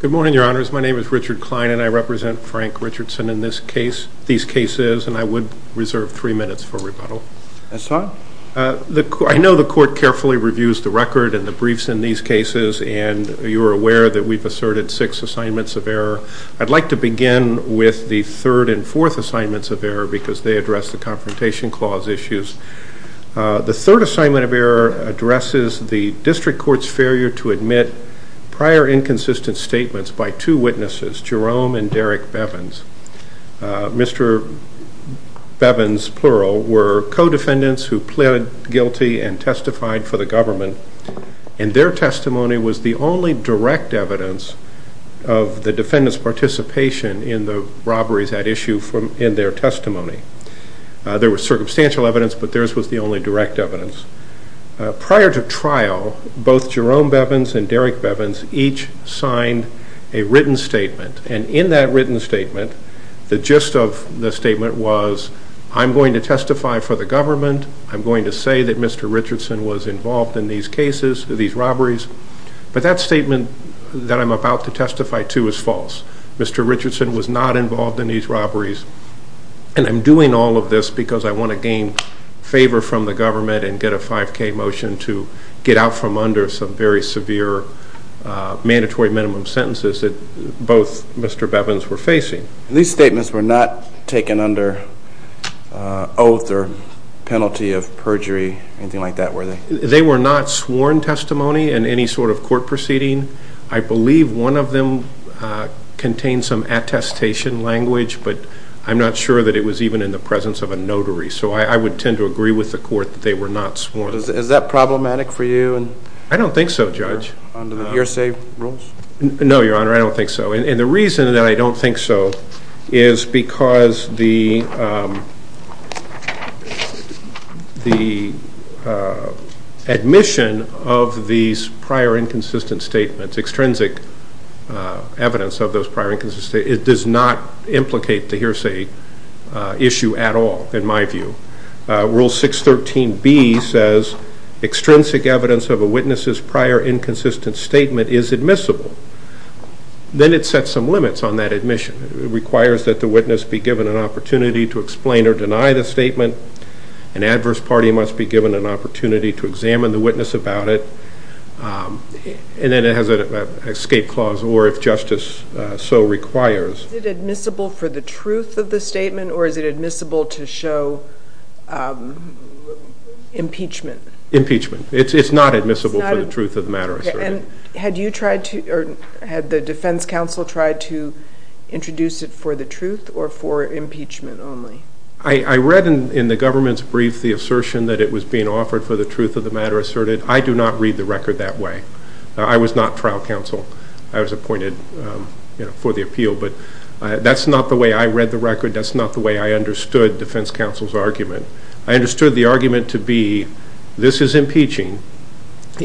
Good morning, your honors. My name is Richard Klein and I represent Frank Richardson in this case, these cases, and I would reserve three minutes for rebuttal. I know the court carefully reviews the record and the briefs in these cases, and you are aware that we've asserted six assignments of error. I'd like to begin with the third and fourth assignments of error because they address the Confrontation Clause issues. The third assignment of error addresses the district court's failure to admit prior inconsistent statements by two witnesses, Jerome and Derek Bevins. Mr. Bevins, plural, were co-defendants who pleaded guilty and testified for the government, and their testimony was the only direct evidence of the defendant's participation in the robberies at issue in their testimony. There was circumstantial evidence, but theirs was the only direct evidence. Prior to trial, both Jerome Bevins and Derek Bevins each signed a written statement, and in that written statement, the gist of the statement was, I'm going to testify for the government, I'm going to say that Mr. Richardson was involved in these cases, these robberies, but that statement that I'm about to testify to is false. Mr. Richardson was not involved in these robberies, and I'm doing all of this because I want to gain favor from the government and get a 5K motion to get out from under some very severe mandatory minimum sentences that both Mr. Bevins were facing. These statements were not taken under oath or penalty of perjury or anything like that, were they? They were not sworn testimony in any sort of court proceeding. I believe one of them contained some attestation language, but I'm not sure that it was even in the presence of a notary, so I would tend to agree with the court that they were not sworn. Is that problematic for you? I don't think so, Judge. Under the hearsay rules? No, Your Honor, I don't think so. And the reason that I don't think so is because the admission of these prior inconsistent statements, extrinsic evidence of those prior inconsistent statements, it does not implicate the hearsay issue at all, in my view. Rule 613B says extrinsic evidence of a witness's prior inconsistent statement is admissible. Then it sets some limits on that admission. It requires that the witness be given an opportunity to explain or deny the statement. An adverse party must be given an opportunity to examine the witness about it. And then it has an escape clause, or if justice so requires. Is it admissible for the truth of the statement, or is it admissible to show impeachment? Impeachment. It's not admissible for the truth of the matter asserted. And had you tried to, or had the defense counsel tried to introduce it for the truth or for impeachment only? I read in the government's brief the assertion that it was being offered for the truth of the matter asserted. I do not read the record that way. I was not trial counsel. I was appointed for the appeal, but that's not the way I read the record. That's not the way I understood defense counsel's argument. I understood the argument to be this is impeaching,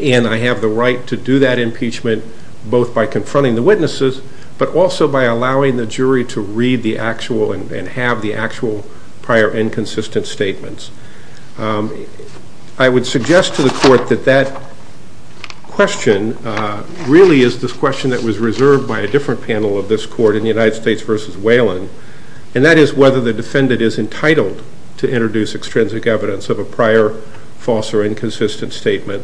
and I have the right to do that impeachment both by confronting the witnesses, but also by allowing the jury to read the actual and have the actual prior inconsistent statements. I would suggest to the court that that question really is this question that was reserved by a different panel of this court in the United States v. Whelan, and that is whether the defendant is entitled to introduce extrinsic evidence of a prior false or inconsistent statement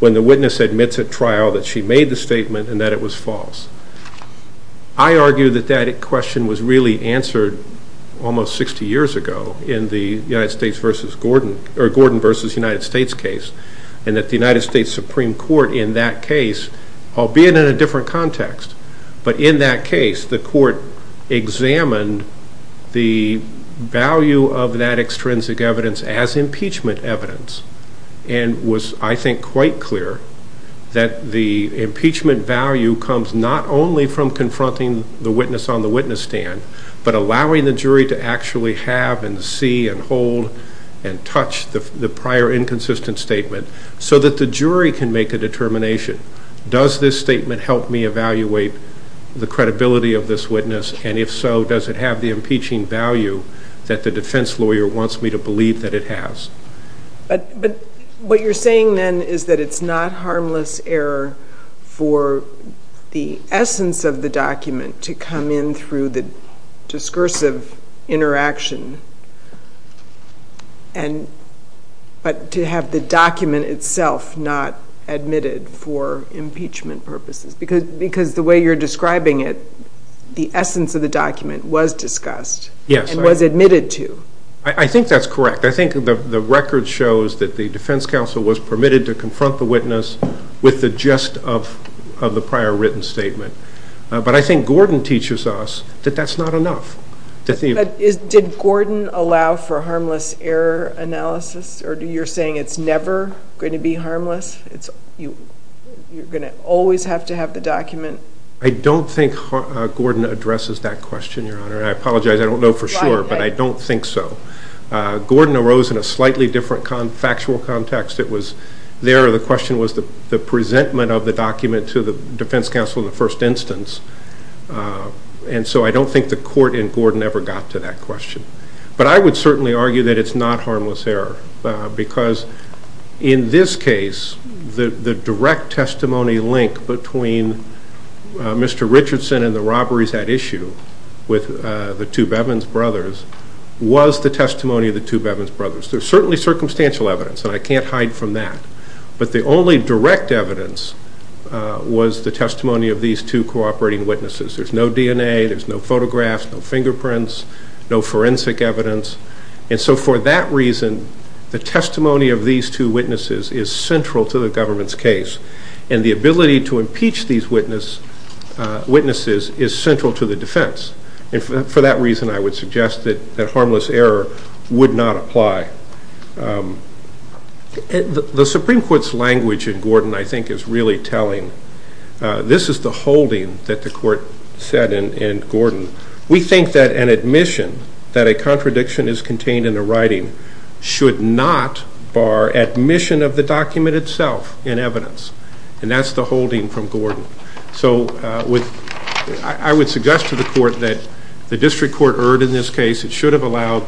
when the witness admits at trial that she made the statement and that it was false. I argue that that question was really answered almost 60 years ago in the Gordon v. United States case, and that the United States Supreme Court in that case, albeit in a different context, but in that case the court examined the value of that extrinsic evidence as impeachment evidence and was, I think, quite clear that the impeachment value comes not only from confronting the witness on the witness stand, but allowing the jury to actually have and see and hold and touch the prior inconsistent statement so that the jury can make a determination. Does this statement help me evaluate the credibility of this witness, and if so, does it have the impeaching value that the defense lawyer wants me to believe that it has? But what you're saying then is that it's not harmless error for the essence of the document to come in through the discursive interaction but to have the document itself not admitted for impeachment purposes, because the way you're describing it, the essence of the document was discussed and was admitted to. I think that's correct. I think the record shows that the defense counsel was permitted to confront the witness with the gist of the prior written statement, but I think Gordon teaches us that that's not enough. Did Gordon allow for harmless error analysis, or you're saying it's never going to be harmless? You're going to always have to have the document? I don't think Gordon addresses that question, Your Honor, and I apologize. I don't know for sure, but I don't think so. Gordon arose in a slightly different factual context. It was there the question was the presentment of the document to the defense counsel in the first instance, and so I don't think the court in Gordon ever got to that question. But I would certainly argue that it's not harmless error, because in this case the direct testimony link between Mr. Richardson and the robberies at issue with the two Bevins brothers was the testimony of the two Bevins brothers. There's certainly circumstantial evidence, and I can't hide from that, but the only direct evidence was the testimony of these two cooperating witnesses. There's no DNA. There's no photographs, no fingerprints, no forensic evidence, and so for that reason the testimony of these two witnesses is central to the government's case, and the ability to impeach these witnesses is central to the defense, and for that reason I would suggest that harmless error would not apply. The Supreme Court's language in Gordon, I think, is really telling. This is the holding that the court said in Gordon. We think that an admission that a contradiction is contained in the writing should not bar admission of the document itself in evidence, and that's the holding from Gordon. So I would suggest to the court that the district court erred in this case. It should have allowed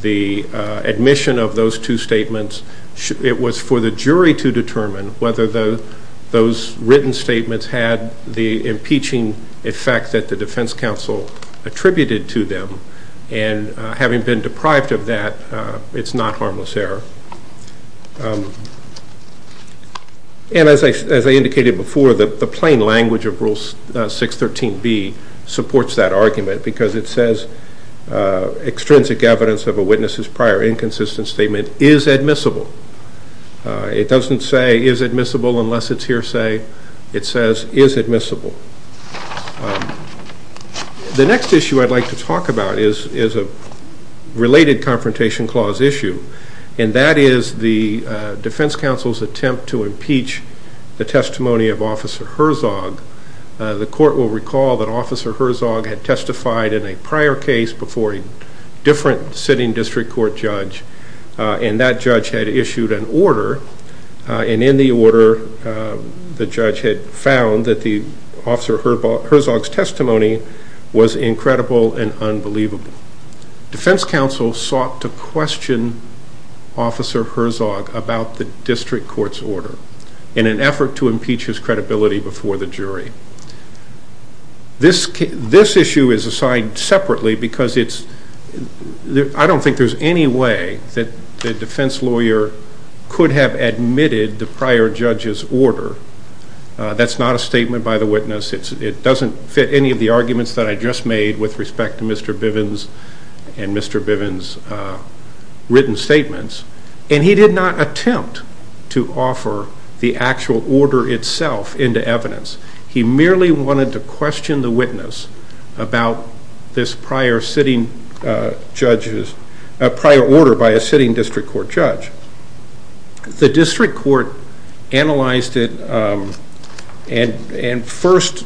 the admission of those two statements. It was for the jury to determine whether those written statements had the impeaching effect that the defense counsel attributed to them, and having been deprived of that, it's not harmless error. And as I indicated before, the plain language of Rule 613B supports that argument because it says extrinsic evidence of a witness's prior inconsistent statement is admissible. It doesn't say is admissible unless it's hearsay. It says is admissible. The next issue I'd like to talk about is a related confrontation clause issue, and that is the defense counsel's attempt to impeach the testimony of Officer Herzog. The court will recall that Officer Herzog had testified in a prior case before a different sitting district court judge, and that judge had issued an order, and in the order the judge had found that Officer Herzog's testimony was incredible and unbelievable. Defense counsel sought to question Officer Herzog about the district court's order in an effort to impeach his credibility before the jury. This issue is assigned separately because I don't think there's any way that the defense lawyer could have admitted the prior judge's order. That's not a statement by the witness. It doesn't fit any of the arguments that I just made with respect to Mr. Bivens and Mr. Bivens' written statements, and he did not attempt to offer the actual order itself into evidence. He merely wanted to question the witness about this prior order by a sitting district court judge. The district court analyzed it and first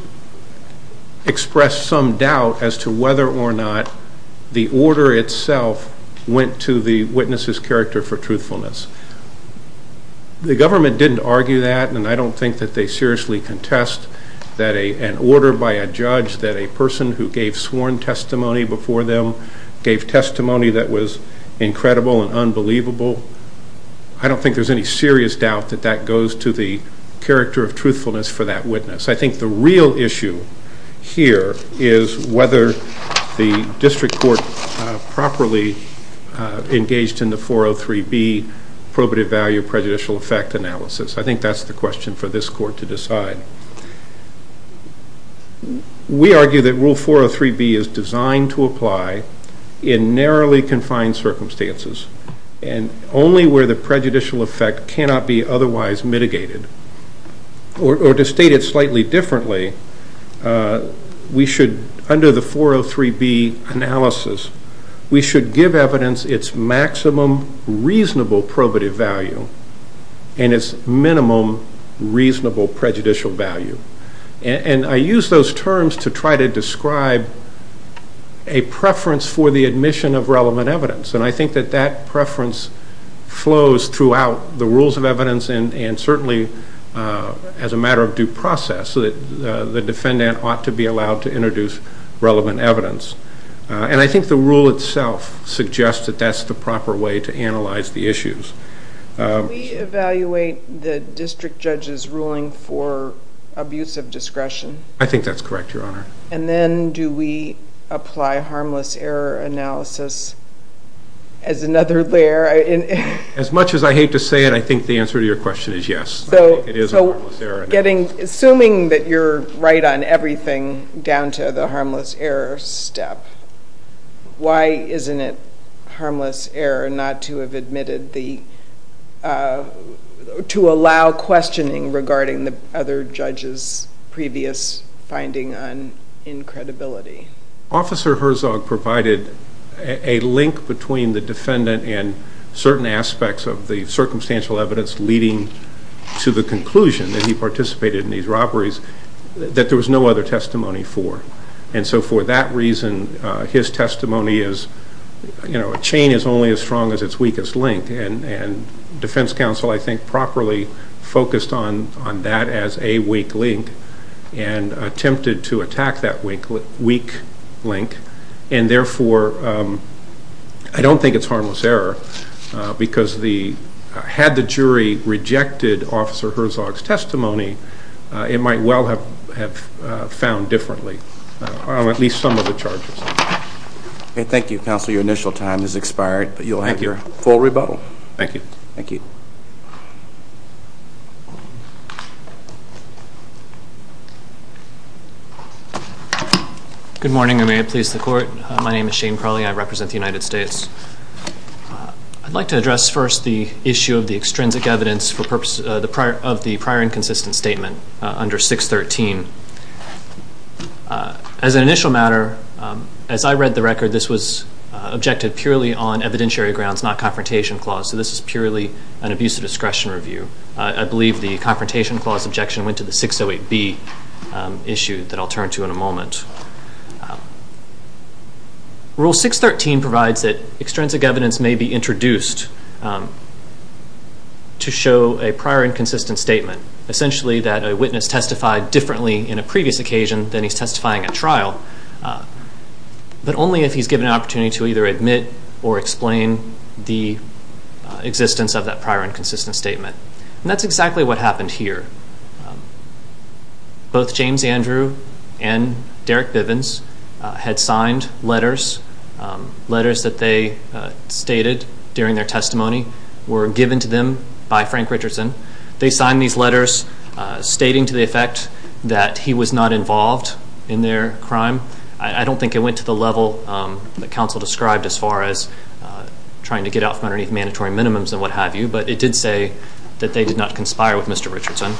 expressed some doubt as to whether or not the order itself went to the witness's character for truthfulness. The government didn't argue that, and I don't think that they seriously contest an order by a judge that a person who gave sworn testimony before them gave testimony that was incredible and unbelievable. I don't think there's any serious doubt that that goes to the character of truthfulness for that witness. I think the real issue here is whether the district court properly engaged in the 403B probative value prejudicial effect analysis. I think that's the question for this court to decide. We argue that Rule 403B is designed to apply in narrowly confined circumstances and only where the prejudicial effect cannot be otherwise mitigated. Or to state it slightly differently, under the 403B analysis, we should give evidence its maximum reasonable probative value and its minimum reasonable prejudicial value. I use those terms to try to describe a preference for the admission of relevant evidence, and I think that that preference flows throughout the rules of evidence and certainly as a matter of due process, so that the defendant ought to be allowed to introduce relevant evidence. And I think the rule itself suggests that that's the proper way to analyze the issues. Do we evaluate the district judge's ruling for abuse of discretion? I think that's correct, Your Honor. And then do we apply harmless error analysis as another layer? As much as I hate to say it, I think the answer to your question is yes. So assuming that you're right on everything down to the harmless error step, why isn't it harmless error not to have admitted the to allow questioning regarding the other judge's previous finding on incredibility? Officer Herzog provided a link between the defendant and certain aspects of the circumstantial evidence leading to the conclusion that he participated in these robberies that there was no other testimony for. And so for that reason, his testimony is, you know, a chain is only as strong as its weakest link. And defense counsel, I think, properly focused on that as a weak link and attempted to attack that weak link. And therefore, I don't think it's harmless error because had the jury rejected Officer Herzog's testimony, it might well have found differently on at least some of the charges. Okay, thank you, Counselor. Your initial time has expired, but you'll have your full rebuttal. Thank you. Thank you. Good morning, and may it please the Court. My name is Shane Crowley. I represent the United States. I'd like to address first the issue of the extrinsic evidence of the prior inconsistent statement under 613. As an initial matter, as I read the record, this was objected purely on evidentiary grounds, not confrontation clause, so this is purely an abuse of discretion review. I believe the confrontation clause objection went to the 608B issue that I'll turn to in a moment. Rule 613 provides that extrinsic evidence may be introduced to show a prior inconsistent statement, essentially that a witness testified differently in a previous occasion than he's testifying at trial, but only if he's given an opportunity to either admit or explain the existence of that prior inconsistent statement. And that's exactly what happened here. Both James Andrew and Derek Bivens had signed letters, letters that they stated during their testimony were given to them by Frank Richardson. They signed these letters stating to the effect that he was not involved in their crime. I don't think it went to the level that counsel described as far as trying to get out from underneath mandatory minimums and what have you, but it did say that they did not conspire with Mr. Richardson.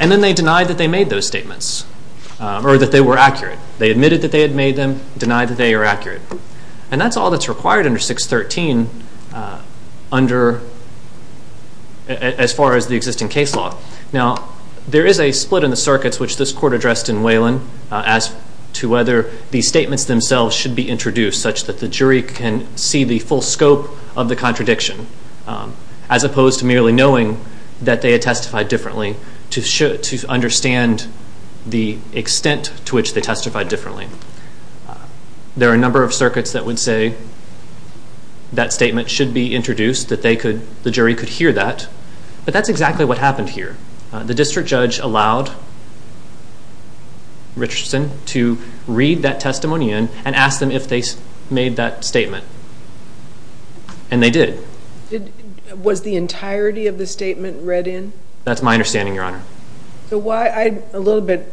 And then they denied that they made those statements, or that they were accurate. They admitted that they had made them, denied that they are accurate. And that's all that's required under 613 as far as the existing case law. Now, there is a split in the circuits which this court addressed in Waylon as to whether these statements themselves should be introduced such that the jury can see the full scope of the contradiction, as opposed to merely knowing that they had testified differently to understand the extent to which they testified differently. There are a number of circuits that would say that statement should be introduced, that the jury could hear that. But that's exactly what happened here. The district judge allowed Richardson to read that testimony in and ask them if they made that statement. And they did. Was the entirety of the statement read in? That's my understanding, Your Honor. I'm a little bit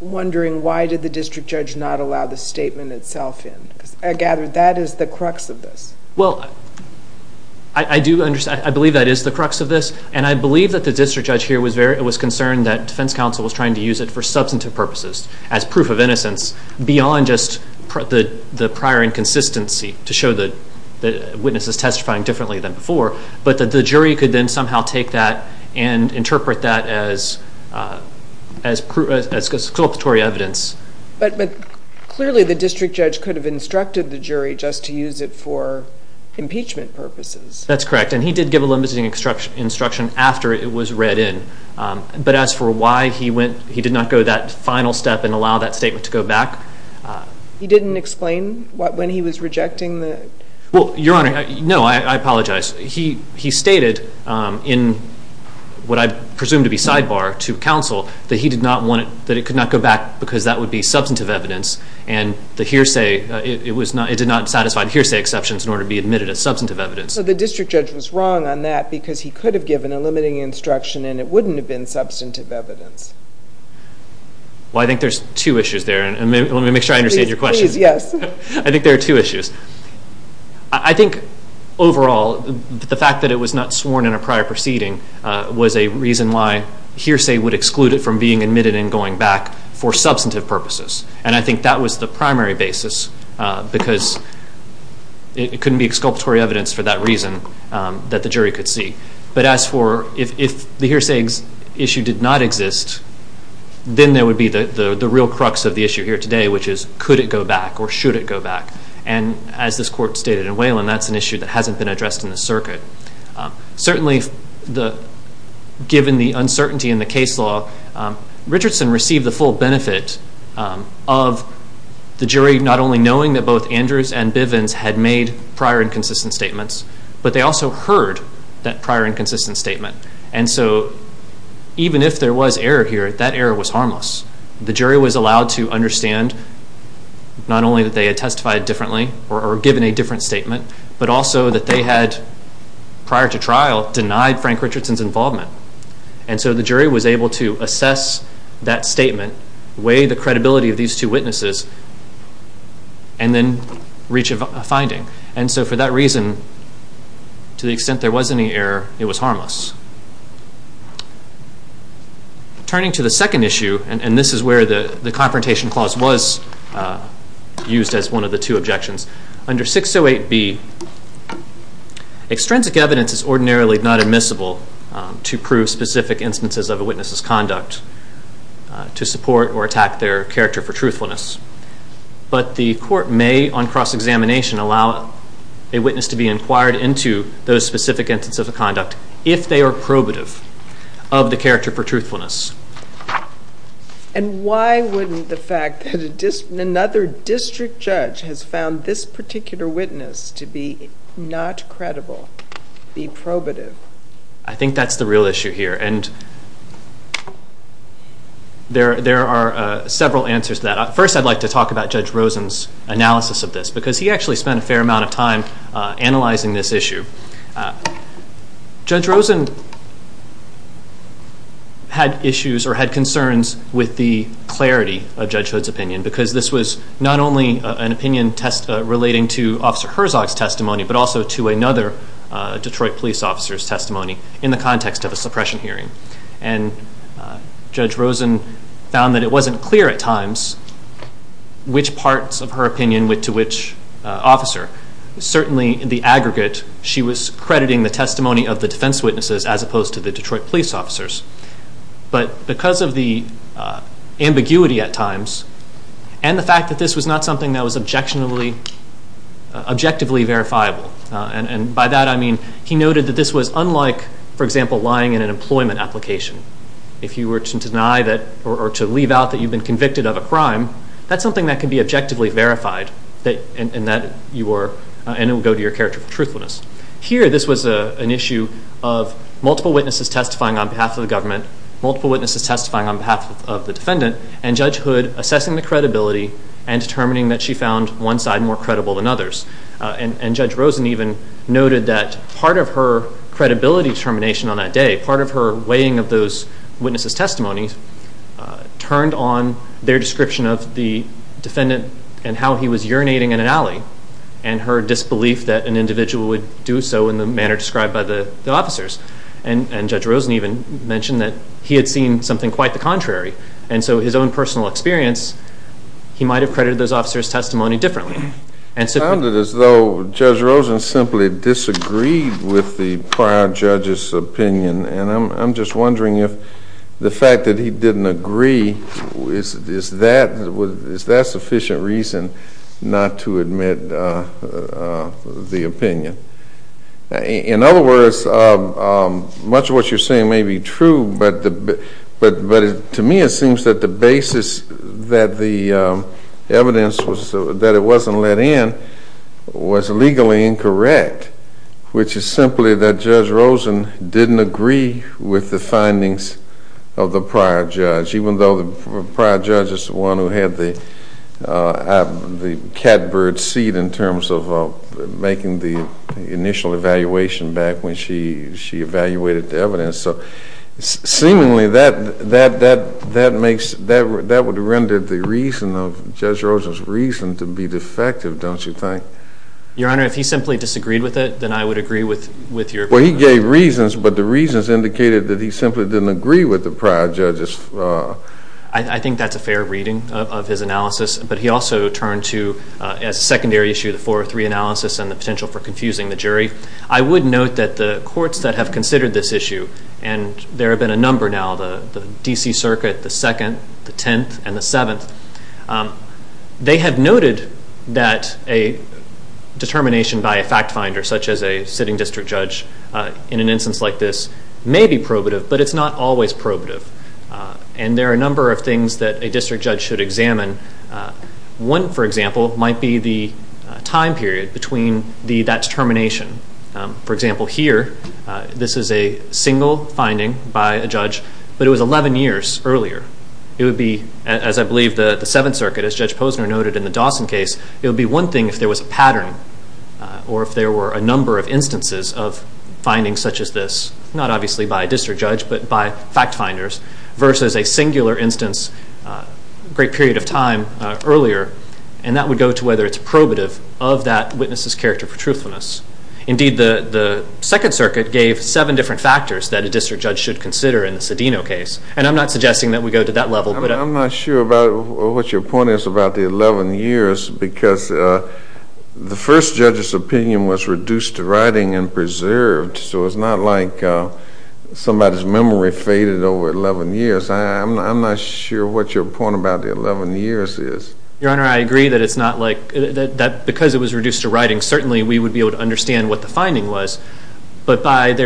wondering why did the district judge not allow the statement itself in? I gather that is the crux of this. Well, I do understand. I believe that is the crux of this. And I believe that the district judge here was concerned that defense counsel was trying to use it for substantive purposes, as proof of innocence, beyond just the prior inconsistency to show that the witness is testifying differently than before, but that the jury could then somehow take that and interpret that as culpatory evidence. But clearly the district judge could have instructed the jury just to use it for impeachment purposes. That's correct. And he did give a limiting instruction after it was read in. But as for why he did not go that final step and allow that statement to go back... He didn't explain when he was rejecting the... Well, Your Honor, no, I apologize. He stated in what I presume to be sidebar to counsel that he did not want it, that it could not go back because that would be substantive evidence. And the hearsay, it did not satisfy the hearsay exceptions in order to be admitted as substantive evidence. So the district judge was wrong on that because he could have given a limiting instruction and it wouldn't have been substantive evidence. Well, I think there's two issues there. Let me make sure I understand your question. Please, yes. I think there are two issues. I think, overall, the fact that it was not sworn in a prior proceeding was a reason why hearsay would exclude it from being admitted and going back for substantive purposes. And I think that was the primary basis because it couldn't be exculpatory evidence for that reason that the jury could see. But as for if the hearsay issue did not exist, then there would be the real crux of the issue here today, which is could it go back or should it go back. And as this Court stated in Waylon, that's an issue that hasn't been addressed in the circuit. Certainly, given the uncertainty in the case law, Richardson received the full benefit of the jury not only knowing that both Andrews and Bivens had made prior inconsistent statements, but they also heard that prior inconsistent statement. And so even if there was error here, that error was harmless. The jury was allowed to understand not only that they had testified differently or given a different statement, but also that they had, prior to trial, denied Frank Richardson's involvement. And so the jury was able to assess that statement, weigh the credibility of these two witnesses, and then reach a finding. And so for that reason, to the extent there was any error, it was harmless. Turning to the second issue, and this is where the Confrontation Clause was used as one of the two objections. Under 608B, extrinsic evidence is ordinarily not admissible to prove specific instances of a witness's conduct to support or attack their character for truthfulness. But the court may, on cross-examination, allow a witness to be inquired into those specific instances of conduct if they are probative of the character for truthfulness. And why wouldn't the fact that another district judge has found this particular witness to be not credible be probative? I think that's the real issue here, and there are several answers to that. First, I'd like to talk about Judge Rosen's analysis of this, because he actually spent a fair amount of time analyzing this issue. Judge Rosen had issues or had concerns with the clarity of Judge Hood's opinion, because this was not only an opinion relating to Officer Herzog's testimony, but also to another Detroit police officer's testimony in the context of a suppression hearing. And Judge Rosen found that it wasn't clear at times which parts of her opinion went to which officer. Certainly in the aggregate, she was crediting the testimony of the defense witnesses as opposed to the Detroit police officers. But because of the ambiguity at times, and the fact that this was not something that was objectively verifiable, and by that I mean, he noted that this was unlike, for example, lying in an employment application. If you were to deny that, or to leave out that you've been convicted of a crime, that's something that can be objectively verified, and it will go to your character for truthfulness. Here, this was an issue of multiple witnesses testifying on behalf of the government, multiple witnesses testifying on behalf of the defendant, and Judge Hood assessing the credibility and determining that she found one side more credible than others. And Judge Rosen even noted that part of her credibility determination on that day, part of her weighing of those witnesses' testimonies, turned on their description of the defendant and how he was urinating in an alley, and her disbelief that an individual would do so in the manner described by the officers. And Judge Rosen even mentioned that he had seen something quite the contrary, and so his own personal experience, he might have credited those officers' testimony differently. It sounded as though Judge Rosen simply disagreed with the prior judge's opinion, and I'm just wondering if the fact that he didn't agree, is that sufficient reason not to admit the opinion? In other words, much of what you're saying may be true, but to me it seems that the basis that the evidence was, that it wasn't let in, was legally incorrect, which is simply that Judge Rosen didn't agree with the findings of the prior judge, even though the prior judge is the one who had the catbird seed in terms of making the initial evaluation back when she evaluated the evidence. So seemingly that would render the reason of Judge Rosen's reason to be defective, don't you think? Your Honor, if he simply disagreed with it, then I would agree with your point. Well, he gave reasons, but the reasons indicated that he simply didn't agree with the prior judge's... I think that's a fair reading of his analysis, but he also turned to, as a secondary issue, the 403 analysis and the potential for confusing the jury. I would note that the courts that have considered this issue, and there have been a number now, the D.C. Circuit, the 2nd, the 10th, and the 7th, they have noted that a determination by a fact finder, such as a sitting district judge in an instance like this, may be probative, but it's not always probative. And there are a number of things that a district judge should examine. One, for example, might be the time period between that determination. For example, here, this is a single finding by a judge, but it was 11 years earlier. It would be, as I believe the 7th Circuit, as Judge Posner noted in the Dawson case, it would be one thing if there was a pattern, or if there were a number of instances of findings such as this, not obviously by a district judge, but by fact finders, versus a singular instance, a great period of time earlier, and that would go to whether it's probative of that witness's character for truthfulness. Indeed, the 2nd Circuit gave seven different factors that a district judge should consider in the Cedeno case, and I'm not suggesting that we go to that level. I'm not sure about what your point is about the 11 years, because the first judge's opinion was reduced to writing and preserved, so it's not like somebody's memory faded over 11 years. I'm not sure what your point about the 11 years is. Your Honor, I agree that because it was reduced to writing, certainly we would be able to understand what the finding was, but the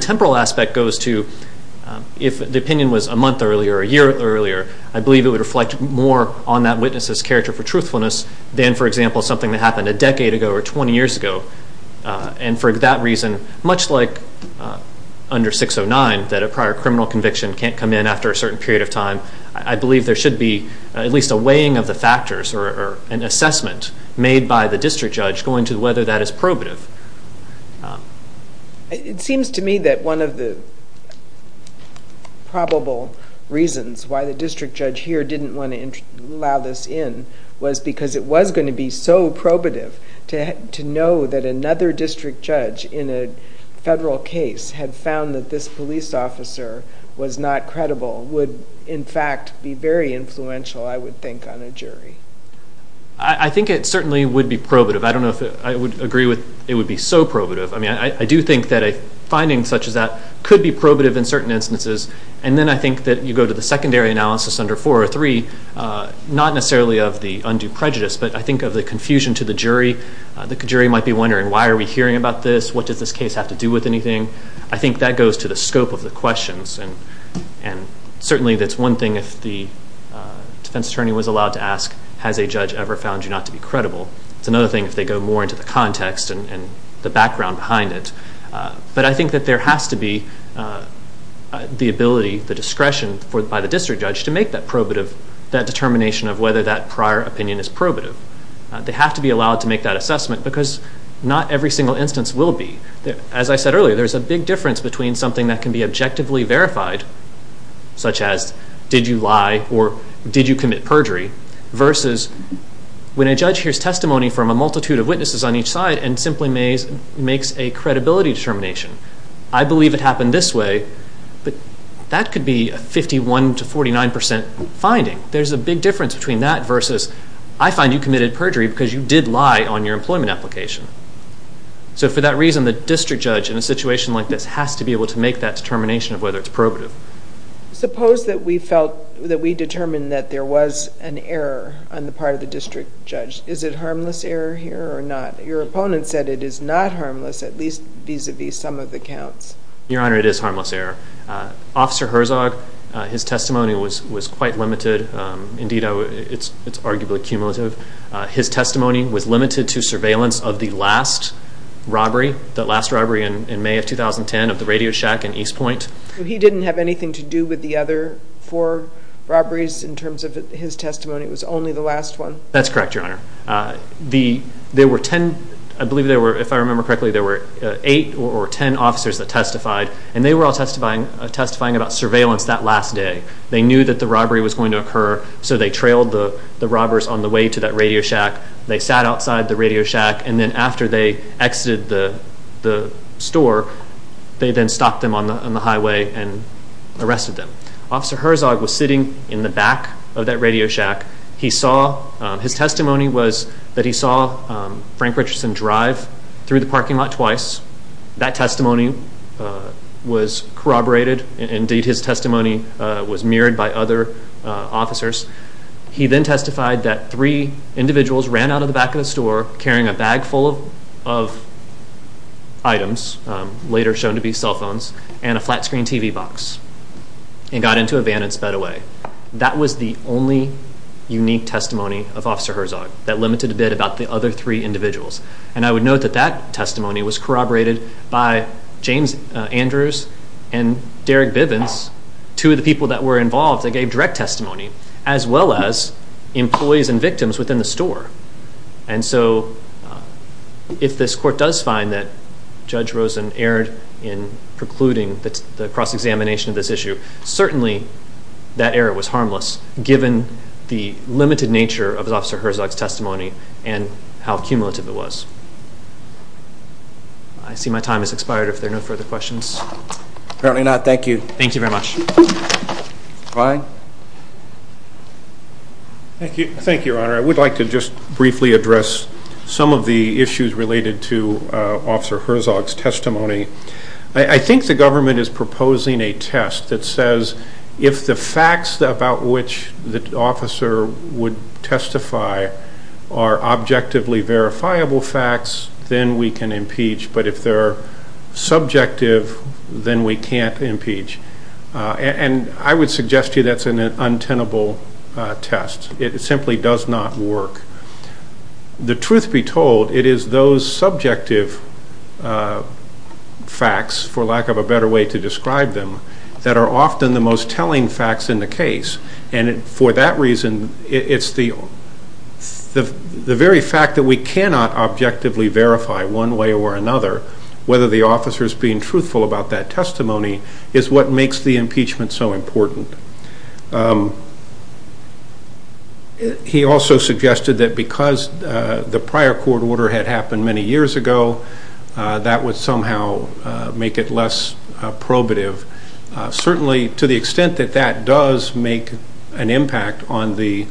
temporal aspect goes to if the opinion was a month earlier or a year earlier, I believe it would reflect more on that witness's character for truthfulness than, for example, something that happened a decade ago or 20 years ago, and for that reason, much like under 609, that a prior criminal conviction can't come in after a certain period of time, I believe there should be at least a weighing of the factors or an assessment made by the district judge going to whether that is probative. It seems to me that one of the probable reasons why the district judge here didn't want to allow this in was because it was going to be so probative to know that another district judge in a federal case had found that this police officer was not credible would, in fact, be very influential, I would think, on a jury. I think it certainly would be probative. I don't know if I would agree with it would be so probative. I do think that a finding such as that could be probative in certain instances, and then I think that you go to the secondary analysis under 403, not necessarily of the undue prejudice, but I think of the confusion to the jury. The jury might be wondering, why are we hearing about this? What does this case have to do with anything? I think that goes to the scope of the questions, and certainly that's one thing if the defense attorney was allowed to ask, has a judge ever found you not to be credible? It's another thing if they go more into the context and the background behind it. But I think that there has to be the ability, the discretion by the district judge to make that probative, that determination of whether that prior opinion is probative. They have to be allowed to make that assessment because not every single instance will be. As I said earlier, there's a big difference between something that can be objectively verified, such as did you lie or did you commit perjury, versus when a judge hears testimony from a multitude of witnesses on each side and simply makes a credibility determination. I believe it happened this way, but that could be a 51 to 49% finding. There's a big difference between that versus I find you committed perjury because you did lie on your employment application. So for that reason, the district judge in a situation like this has to be able to make that determination of whether it's probative. Suppose that we felt that we determined that there was an error on the part of the district judge. Is it harmless error here or not? Your opponent said it is not harmless, at least vis-à-vis some of the counts. Your Honor, it is harmless error. Officer Herzog, his testimony was quite limited. Indeed, it's arguably cumulative. His testimony was limited to surveillance of the last robbery, the last robbery in May of 2010 of the Radio Shack in East Point. He didn't have anything to do with the other four robberies in terms of his testimony. It was only the last one. That's correct, Your Honor. There were 10, I believe there were, if I remember correctly, there were 8 or 10 officers that testified, and they were all testifying about surveillance that last day. They knew that the robbery was going to occur, so they trailed the robbers on the way to that Radio Shack. They sat outside the Radio Shack, and then after they exited the store, they then stopped them on the highway and arrested them. Officer Herzog was sitting in the back of that Radio Shack. His testimony was that he saw Frank Richardson drive through the parking lot twice. That testimony was corroborated. Indeed, his testimony was mirrored by other officers. He then testified that three individuals ran out of the back of the store carrying a bag full of items, later shown to be cell phones, and a flat screen TV box, and got into a van and sped away. That was the only unique testimony of Officer Herzog that limited a bit about the other three individuals. And I would note that that testimony was corroborated by James Andrews and Derek Bivens, two of the people that were involved that gave direct testimony, as well as employees and victims within the store. And so if this court does find that Judge Rosen erred in precluding the cross-examination of this issue, certainly that error was harmless, given the limited nature of Officer Herzog's testimony and how cumulative it was. I see my time has expired if there are no further questions. Apparently not. Thank you. Thank you very much. Clyde? Thank you, Your Honor. I would like to just briefly address some of the issues related to Officer Herzog's testimony. I think the government is proposing a test that says if the facts about which the officer would testify are objectively verifiable facts, then we can impeach. But if they're subjective, then we can't impeach. And I would suggest to you that's an untenable test. It simply does not work. The truth be told, it is those subjective facts, for lack of a better way to describe them, that are often the most telling facts in the case. And for that reason, it's the very fact that we cannot objectively verify one way or another, whether the officer is being truthful about that testimony, is what makes the impeachment so important. He also suggested that because the prior court order had happened many years ago, that would somehow make it less probative. Certainly, to the extent that that does make an impact on the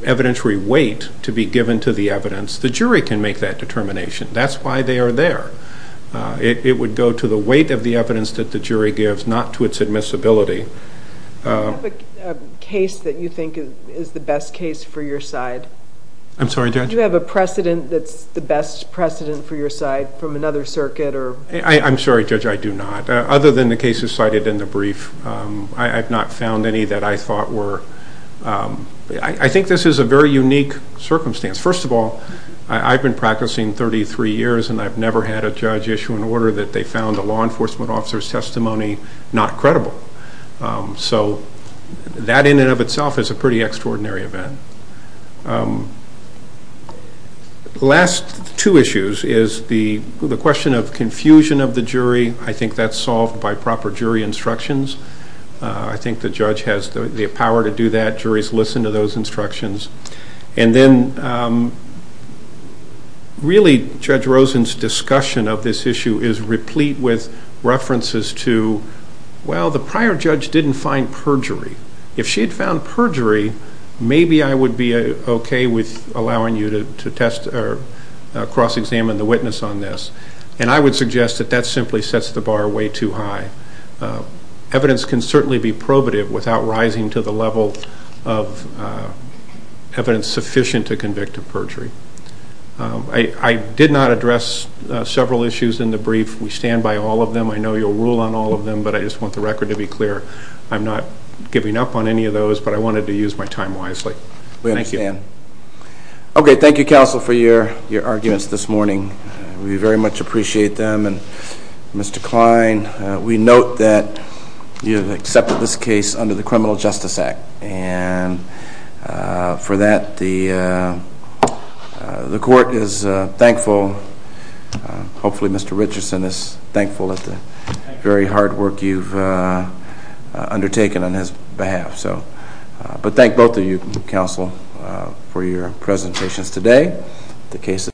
evidentiary weight to be given to the evidence, the jury can make that determination. That's why they are there. It would go to the weight of the evidence that the jury gives, not to its admissibility. Do you have a case that you think is the best case for your side? I'm sorry, Judge? Do you have a precedent that's the best precedent for your side from another circuit? I'm sorry, Judge, I do not. Other than the cases cited in the brief, I've not found any that I thought were... I think this is a very unique circumstance. First of all, I've been practicing 33 years, and I've never had a judge issue an order that they found a law enforcement officer's testimony not credible. So that in and of itself is a pretty extraordinary event. The last two issues is the question of confusion of the jury. I think that's solved by proper jury instructions. I think the judge has the power to do that. Juries listen to those instructions. And then, really, Judge Rosen's discussion of this issue is replete with references to, well, the prior judge didn't find perjury. If she had found perjury, maybe I would be okay with allowing you to cross-examine the witness on this. And I would suggest that that simply sets the bar way too high. Evidence can certainly be probative without rising to the level of evidence sufficient to convict of perjury. I did not address several issues in the brief. We stand by all of them. I know you'll rule on all of them, but I just want the record to be clear. I'm not giving up on any of those, but I wanted to use my time wisely. We understand. Okay, thank you, counsel, for your arguments this morning. We very much appreciate them. And, Mr. Kline, we note that you have accepted this case under the Criminal Justice Act. And for that, the court is thankful. Hopefully Mr. Richardson is thankful at the very hard work you've undertaken on his behalf. But thank both of you, counsel, for your presentations today.